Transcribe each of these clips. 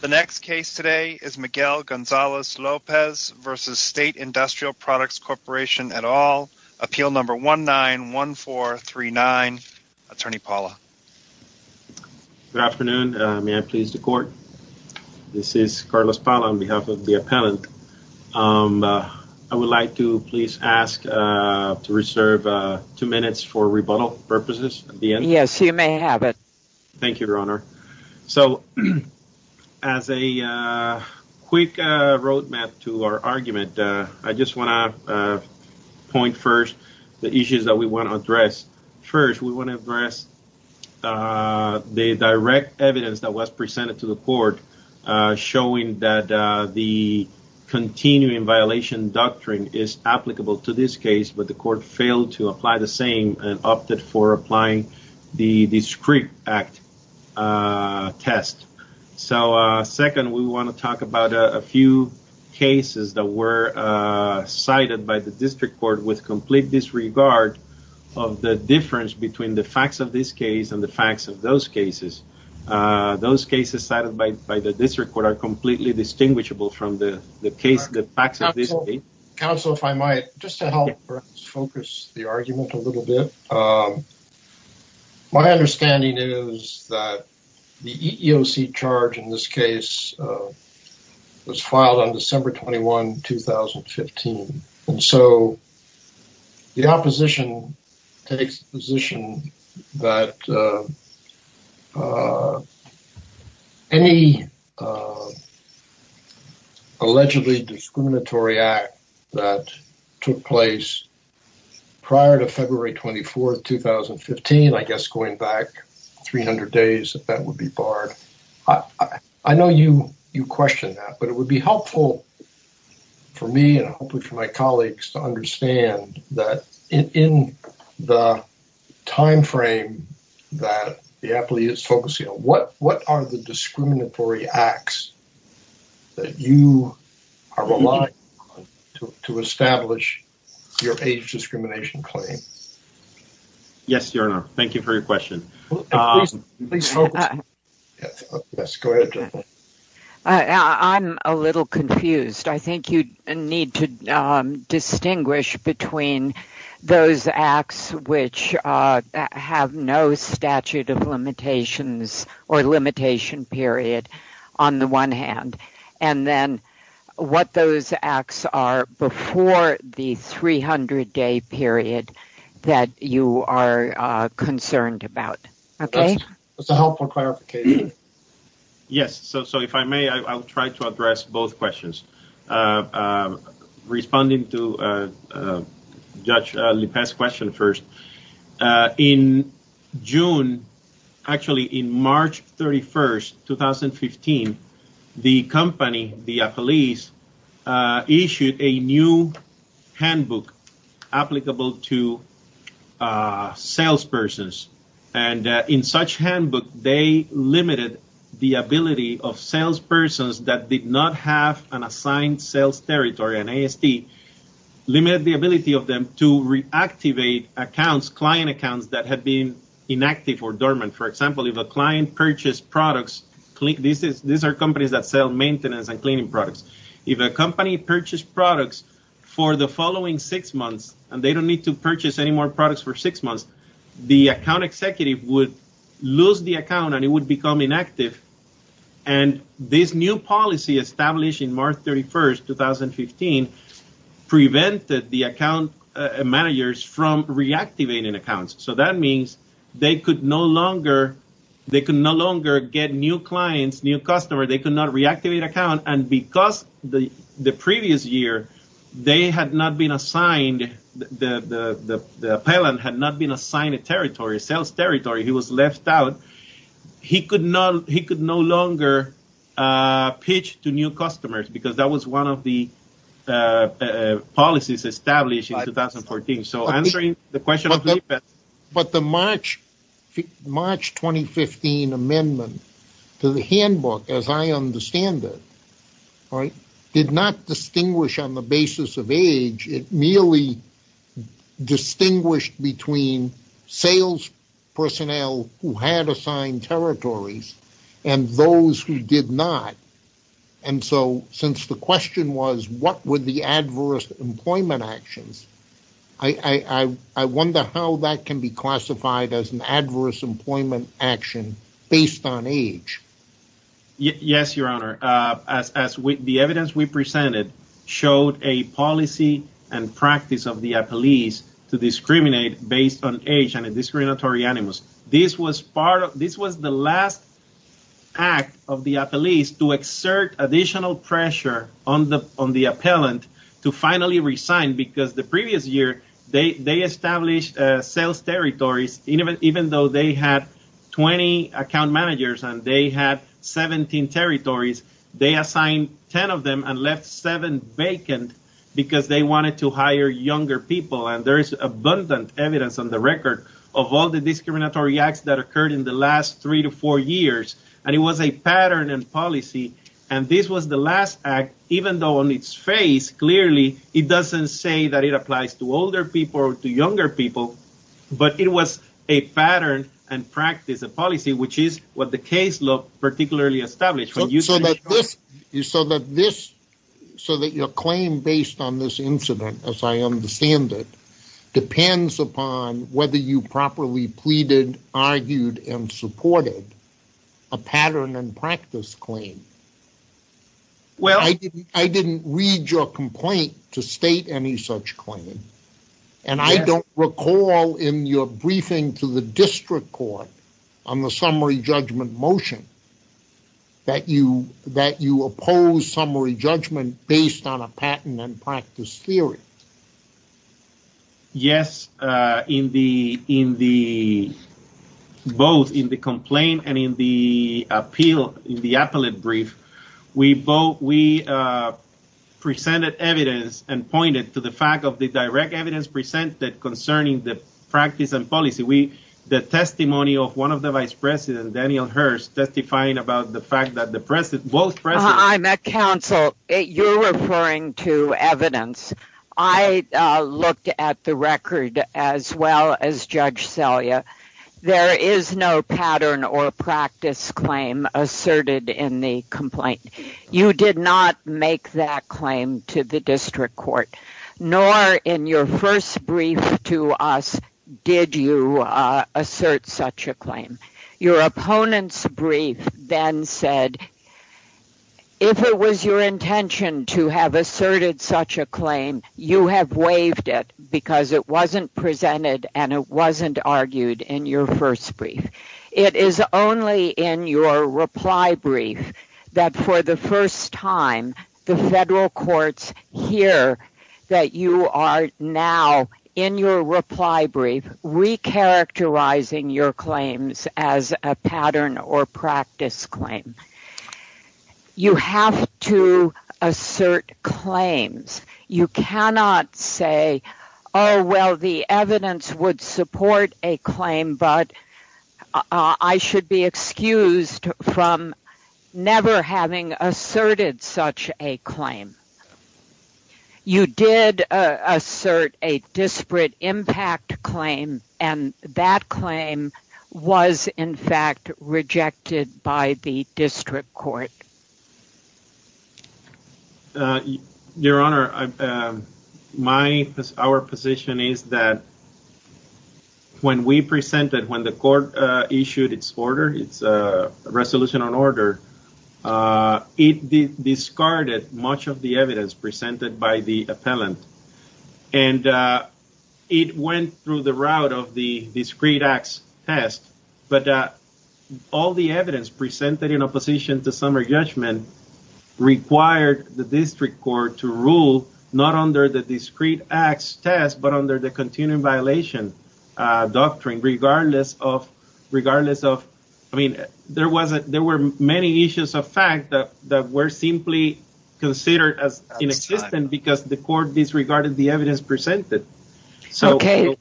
The next case today is Miguel Gonzales-Lopez v. State Industrial Products Corp. et al. Appeal number 191439. Attorney Paula. Good afternoon. May I please the court? This is Carlos Paula on behalf of the appellant. I would like to please ask to reserve two minutes for rebuttal purposes at the end. Yes, you may have it. Thank you, Your Honor. So, as a quick road map to our argument, I just want to point first the issues that we want to address. First, we want to address the direct evidence that was presented to the court showing that the continuing violation doctrine is applicable to this case, but the court failed to apply the same and opted for applying the discrete act test. So, second, we want to talk about a few cases that were cited by the district court with complete disregard of the difference between the facts of this case and the facts of those cases. Those cases cited by the district court are completely distinguishable from the facts of this case. Counsel, if I might, just to help us focus the argument a little bit, my understanding is that the EEOC charge in this case was filed on December 21, 2015, and so the opposition takes the position that any allegedly discriminatory act that took place prior to February 24, 2015, I guess going back 300 days, that would be barred. I know you question that, but it the time frame that the appellee is focusing on, what are the discriminatory acts that you are relying on to establish your age discrimination claim? Yes, Your Honor. Thank you for your question. I'm a little confused. I think you need to distinguish between those acts which have no statute of limitations or limitation period on the one hand, and then what those acts are before the 300-day period that you are concerned about. That's a helpful clarification. Yes, so if I may, I'll try to address both questions. Responding to Judge Lippa's question first, in June, actually in March 31, 2015, the company, the appellees, issued a new handbook applicable to salespersons. In such handbook, they limited the ability of salespersons that accounts that had been inactive or dormant. For example, if a client purchased products, these are companies that sell maintenance and cleaning products. If a company purchased products for the following six months, and they don't need to purchase any more products for six months, the account executive would lose the account and it would become inactive. This new policy established in March 31, 2015, prevented the account managers from reactivating accounts. That means they could no longer get new clients, new customers. They could not reactivate accounts. Because the previous year, the appellant had not been assigned a territory, a sales territory. He was left out. He could no longer pitch to new customers, because that was one of the policies established in 2014. But the March 2015 amendment to the handbook, as I understand it, did not distinguish on sales personnel who had assigned territories and those who did not. And so, since the question was what were the adverse employment actions, I wonder how that can be classified as an adverse employment action based on age. Yes, Your Honor. The evidence we presented showed a policy and practice of the appellees to discriminate based on age and a discriminatory animus. This was the last act of the appellees to exert additional pressure on the appellant to finally resign, because the previous year, they established sales territories. Even though they had 20 account managers and they had 17 territories, they assigned 10 of them and left seven vacant, because they wanted to There is abundant evidence on the record of all the discriminatory acts that occurred in the last three to four years, and it was a pattern and policy. And this was the last act, even though on its face, clearly, it doesn't say that it applies to older people or to younger people, but it was a pattern and practice, a policy, which is what the case law particularly established. So that your claim based on this incident, as I understand it, depends upon whether you properly pleaded, argued, and supported a pattern and practice claim. I didn't read your complaint to state any such claim, and I don't recall in your briefing to the district court on the summary judgment motion, that you oppose summary judgment based on a pattern and practice theory. Yes, in the both in the complaint and in the appeal, in the appellate brief, we presented evidence and pointed to the fact of the direct evidence presented concerning the practice and policy. We the testimony of one of the vice president, Daniel Hearst, testifying about the fact that the president was present. I'm at council. You're referring to evidence. I looked at the record as well as Judge Celia. There is no pattern or practice claim asserted in the complaint. You did not make that claim to the district court, nor in your first brief to us did you assert such a claim. Your opponent's brief then said, if it was your intention to have asserted such a claim, you have waived it because it wasn't presented and it wasn't argued in your first brief. It is only in your reply brief that for the first time the federal courts hear that you are now in your reply brief recharacterizing your claims as a pattern or practice claim. You have to assert claims. You cannot say, oh well, the evidence would support a claim, but I should be excused from never having asserted such a claim. You did assert a disparate impact claim and that claim was in fact rejected by the district court. Your Honor, our position is that when we presented, when the court issued its order, its resolution on order, it discarded much of the evidence presented by the appellant and it went through the route of the discreet acts test, but all the evidence presented in opposition to summary judgment required the district court to rule not under the discreet acts test but under the continuing violation doctrine. There were many issues of fact that were simply considered as inexistent because the court disregarded the evidence presented. Okay.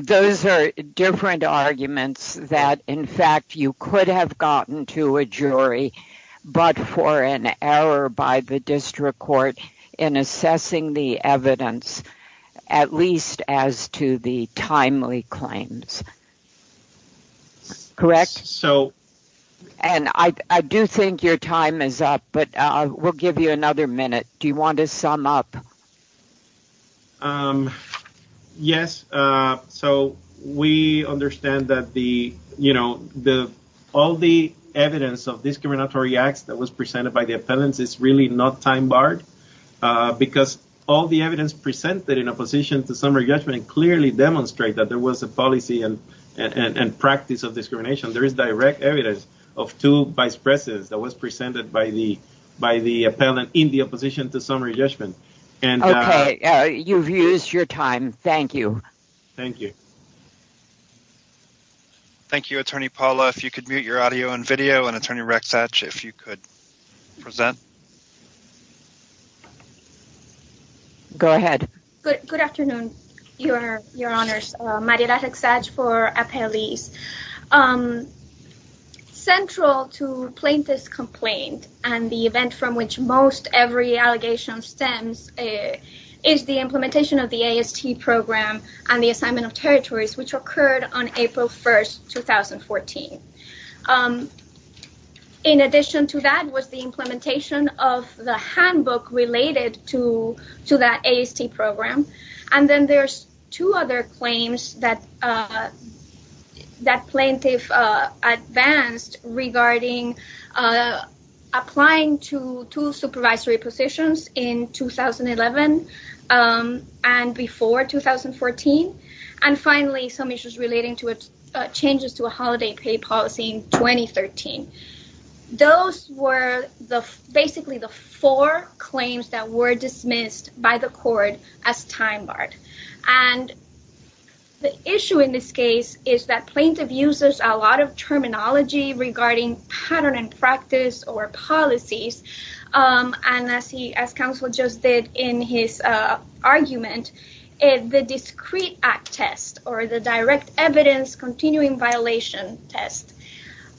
Those are different arguments that in fact you could have gotten to a jury but for an error by the district court in assessing the evidence, at least as to the timely claims. Correct? I do think your time is up, but we'll give you another minute. Do you want to sum up? Yes. We understand that all the evidence of discriminatory acts that was presented by the appellants is really not time barred because all the evidence presented in opposition to summary judgment did not actually demonstrate that there was a policy and practice of discrimination. There is direct evidence of two vice presses that was presented by the appellant in the opposition to summary judgment. Okay. You've used your time. Thank you. Thank you, Attorney Paula. If you could mute your audio and video and Attorney Rex Hatch, if you could mute your audio and video. Thank you. Central to plaintiff's complaint and the event from which most every allegation stems is the implementation of the AST program and the assignment of territories which occurred on April 1, 2014. In addition to that was the implementation of the handbook related to that AST program. Then there's two other claims that plaintiff advanced regarding applying to two supervisory positions in 2011 and before 2014. Finally, some issues relating to changes to a holiday pay policy in And the issue in this case is that plaintiff uses a lot of terminology regarding pattern and practice or policies. And as counsel just did in his argument, the discrete act test or the direct evidence continuing violation test.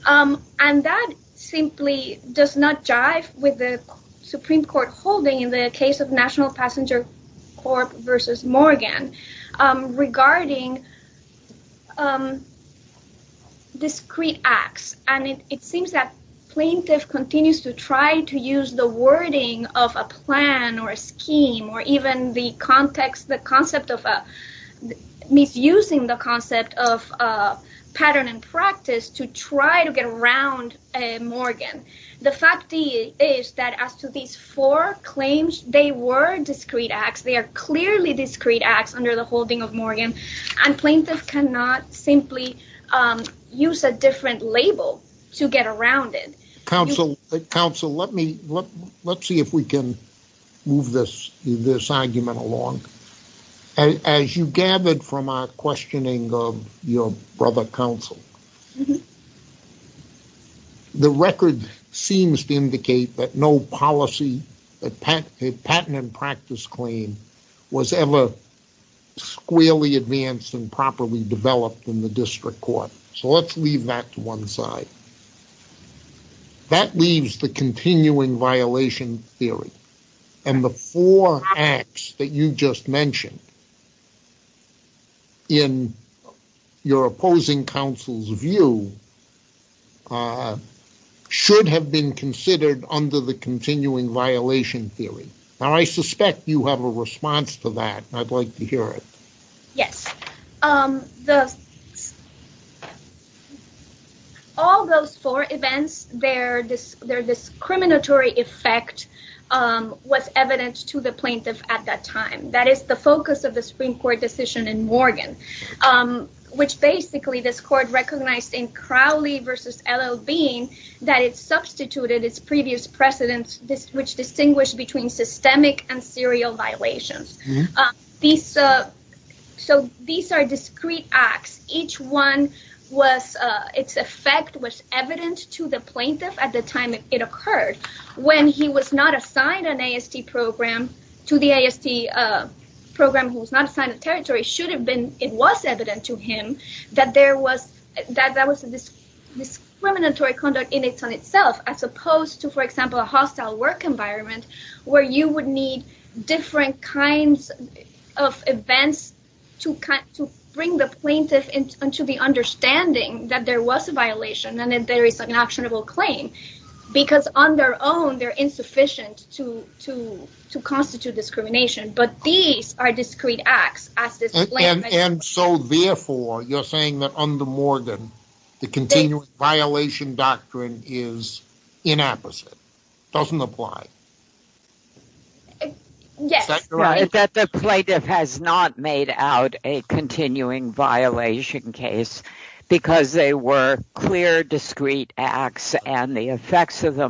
And that simply does not jive with the Supreme Court holding in the case of Passenger Corp versus Morgan regarding discrete acts. And it seems that plaintiff continues to try to use the wording of a plan or a scheme or even the context, the concept of misusing the concept of pattern and practice to try to get around Morgan. The fact is that as to these four claims, they were discrete acts. They are clearly discrete acts under the holding of Morgan and plaintiff cannot simply use a different label to get around it. Counsel, let's see if we can move this argument along. As you gathered from our questioning of your argument, the record seems to indicate that no policy, a pattern and practice claim was ever squarely advanced and properly developed in the district court. So let's leave that to one side. That leaves the plaintiff's view should have been considered under the continuing violation theory. Now I suspect you have a response to that. I'd like to hear it. Yes. All those four events, their discriminatory effect was evident to the plaintiff at that time. That is the Crowley versus L.L. Bean, that it substituted its previous precedents, which distinguish between systemic and serial violations. So these are discrete acts. Each one was, its effect was evident to the plaintiff at the time it occurred. When he was not assigned an AST program to the AST program, who was not assigned a territory, should have been, it was evident to him that that was a discriminatory conduct in itself, as opposed to, for example, a hostile work environment where you would need different kinds of events to bring the plaintiff into the understanding that there was a violation and that there is an actionable claim. Because on their own, they're insufficient to constitute discrimination. But these are discrete acts. And so therefore, you're saying that under Morgan, the continuing violation doctrine is inappropriate. Doesn't apply. Yes. Is that correct? That the plaintiff has not made out a continuing violation case because they were clear discrete acts and the effects of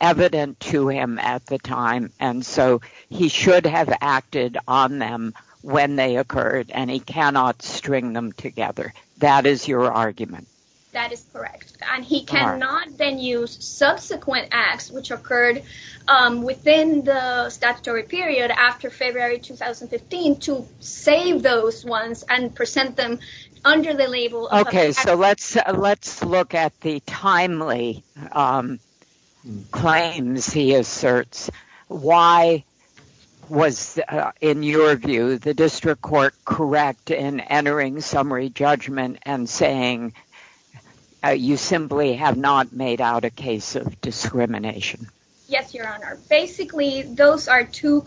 evident to him at the time. And so he should have acted on them when they occurred and he cannot string them together. That is your argument. That is correct. And he cannot then use subsequent acts, which occurred within the statutory period after February 2015, to save those ones and present them under the label. OK, so let's let's look at the timely claims he asserts. Why was, in your view, the district court correct in entering summary judgment and saying you simply have not made out a case of discrimination? Yes, Your Honor. Basically, those are two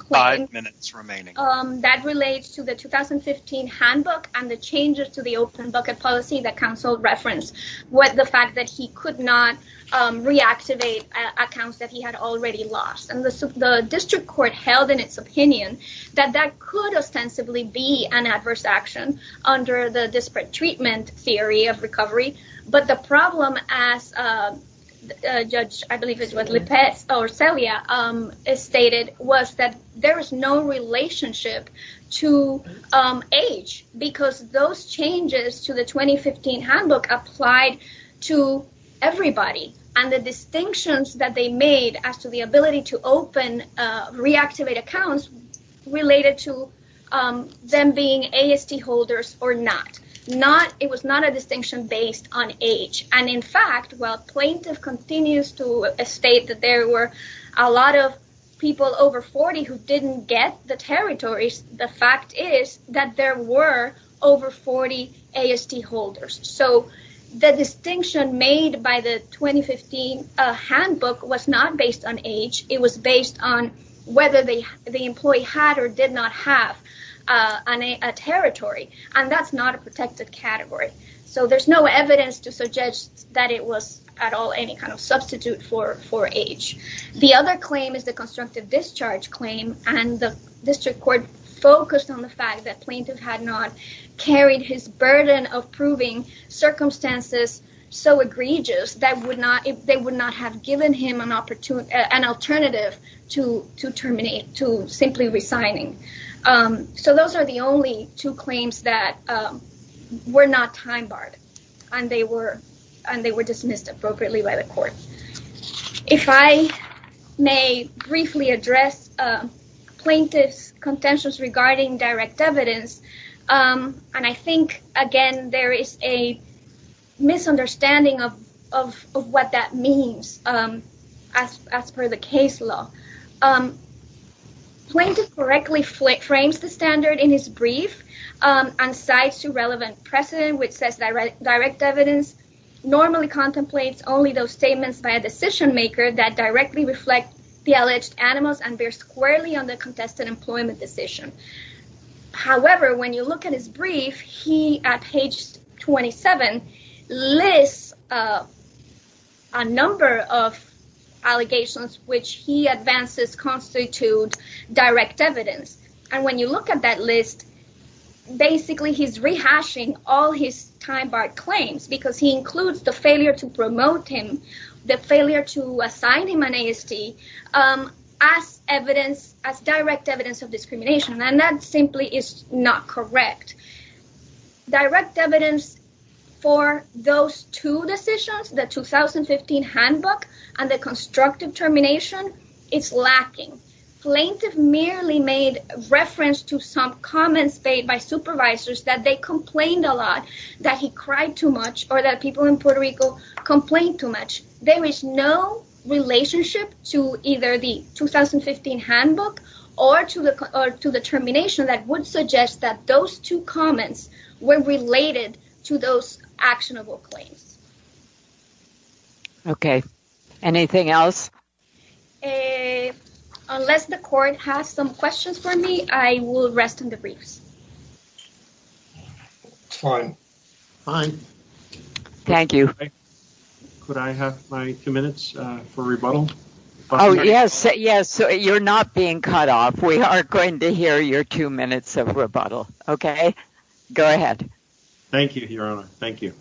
minutes remaining that relates to the 2015 handbook and the changes to the open bucket policy that counsel referenced with the fact that he could not reactivate accounts that he had already lost. And the district court held in its opinion that that could ostensibly be an adverse action under the disparate stated was that there is no relationship to age because those changes to the 2015 handbook applied to everybody and the distinctions that they made as to the ability to open reactivate accounts related to them being AST holders or not. It was not a distinction based on age. And in fact, while plaintiff continues to state that there were a lot of people over 40 who didn't get the territories, the fact is that there were over 40 AST holders. So the distinction made by the 2015 handbook was not based on age. It was based on whether the employee had or did not have a territory. And that's not a protected category. So there's no evidence to suggest that it was at all any kind of substitute for age. The other claim is the constructive discharge claim. And the district court focused on the fact that plaintiff had not carried his burden of proving circumstances so egregious that they would not have given him an alternative to terminate, to simply resigning. So those are the only two claims that were not time barred and they were dismissed appropriately by the court. If I may briefly address plaintiff's contentious regarding direct evidence, and I think, again, there is a misunderstanding of what that means as per the case law. Plaintiff correctly frames the standard in his brief and cites two relevant precedents, which says direct evidence normally contemplates only those statements by a decision maker that directly reflect the alleged animals and bears squarely on the contested employment decision. However, when you look at his brief, he, at page 27, lists a number of allegations which he advances constitute direct evidence. And when you look at that list, basically he's rehashing all his time barred claims because he includes the failure to promote him, the failure to assign him an AST as evidence, as direct evidence of discrimination. And that simply is not correct. Direct evidence for those two decisions, the 2015 handbook and the constructive termination, is lacking. Plaintiff merely made reference to some comments made by supervisors that they complained a lot, that he cried too much, or that people in Puerto Rico complained too much. There is no relationship to either the 2015 handbook or to the termination that would suggest that those two comments were related to those actionable claims. Okay. Anything else? Unless the court has some questions for me, I will rest in the briefs. Fine. Fine. Thank you. Could I have my two minutes for rebuttal? Yes. You're not being cut off. We are going to hear your two minutes of rebuttal. Okay. Go ahead. Thank you, Your Honor. Thank you.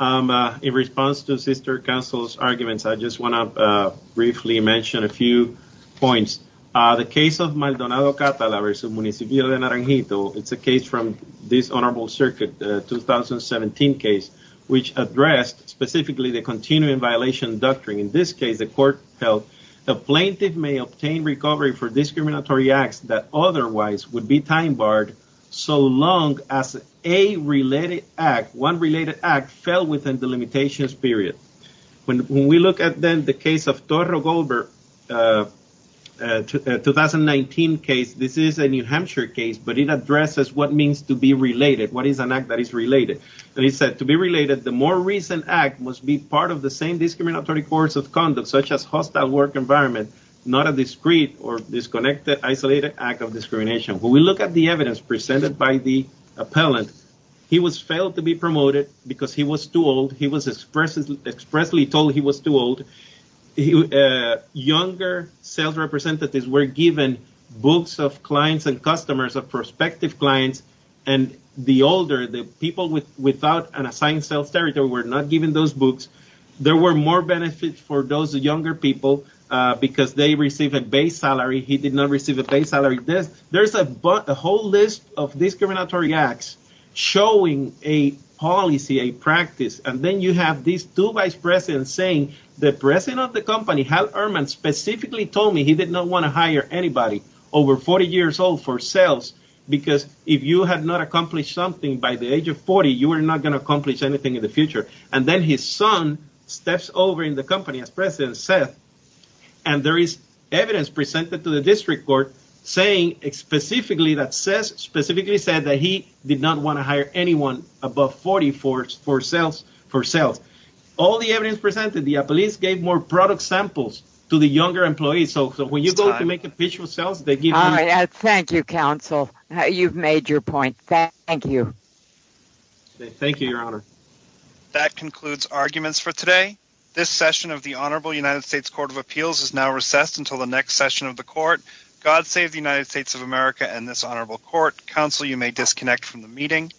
In response to Sister Counsel's arguments, I just want to briefly mention a few points. The case of Maldonado Catala v. Municipio de Naranjito, it's a case from this Honorable Circuit 2017 case, which addressed specifically the continuing In this case, the court held, the plaintiff may obtain recovery for discriminatory acts that otherwise would be time barred so long as a related act, one related act, fell within the limitations period. When we look at then the case of Toro Goldberg, a 2019 case, this is a New Hampshire case, but it addresses what means to be related, what is an act that is related. And he said, to be related, the more recent act must be part of the same discriminatory course of conduct, such as hostile work environment, not a discreet or disconnected, isolated act of discrimination. When we look at the evidence presented by the appellant, he was failed to be promoted because he was too old. He was expressly told he was too old. Younger sales representatives were given books of clients and customers, of prospective clients, and the older, the people without an assigned sales territory were not given those books. There were more benefits for those younger people because they received a base salary. He did not receive a base salary. There's a whole list of discriminatory acts showing a policy, a practice, and then you have these two vice presidents saying, the president of the company, Hal Ehrman, specifically told me he did not want to hire anybody over 40 years old for sales because if you had not accomplished something by the age of 40, you were not going to accomplish anything in the future. And then his son steps over in the company, as President Seth, and there is evidence presented to the district court saying specifically that Seth specifically said that he did not want to hire anyone above 40 for sales. All the evidence presented, the appellant gave more product samples to the younger employees. So when you go to make official sales, they give you... Thank you, counsel. You've made your point. Thank you. Thank you, Your Honor. That concludes arguments for today. This session of the Honorable United States Court of Appeals is now recessed until the next session of the court. God save the United States of America and this honorable court. Counsel, you may disconnect from the meeting.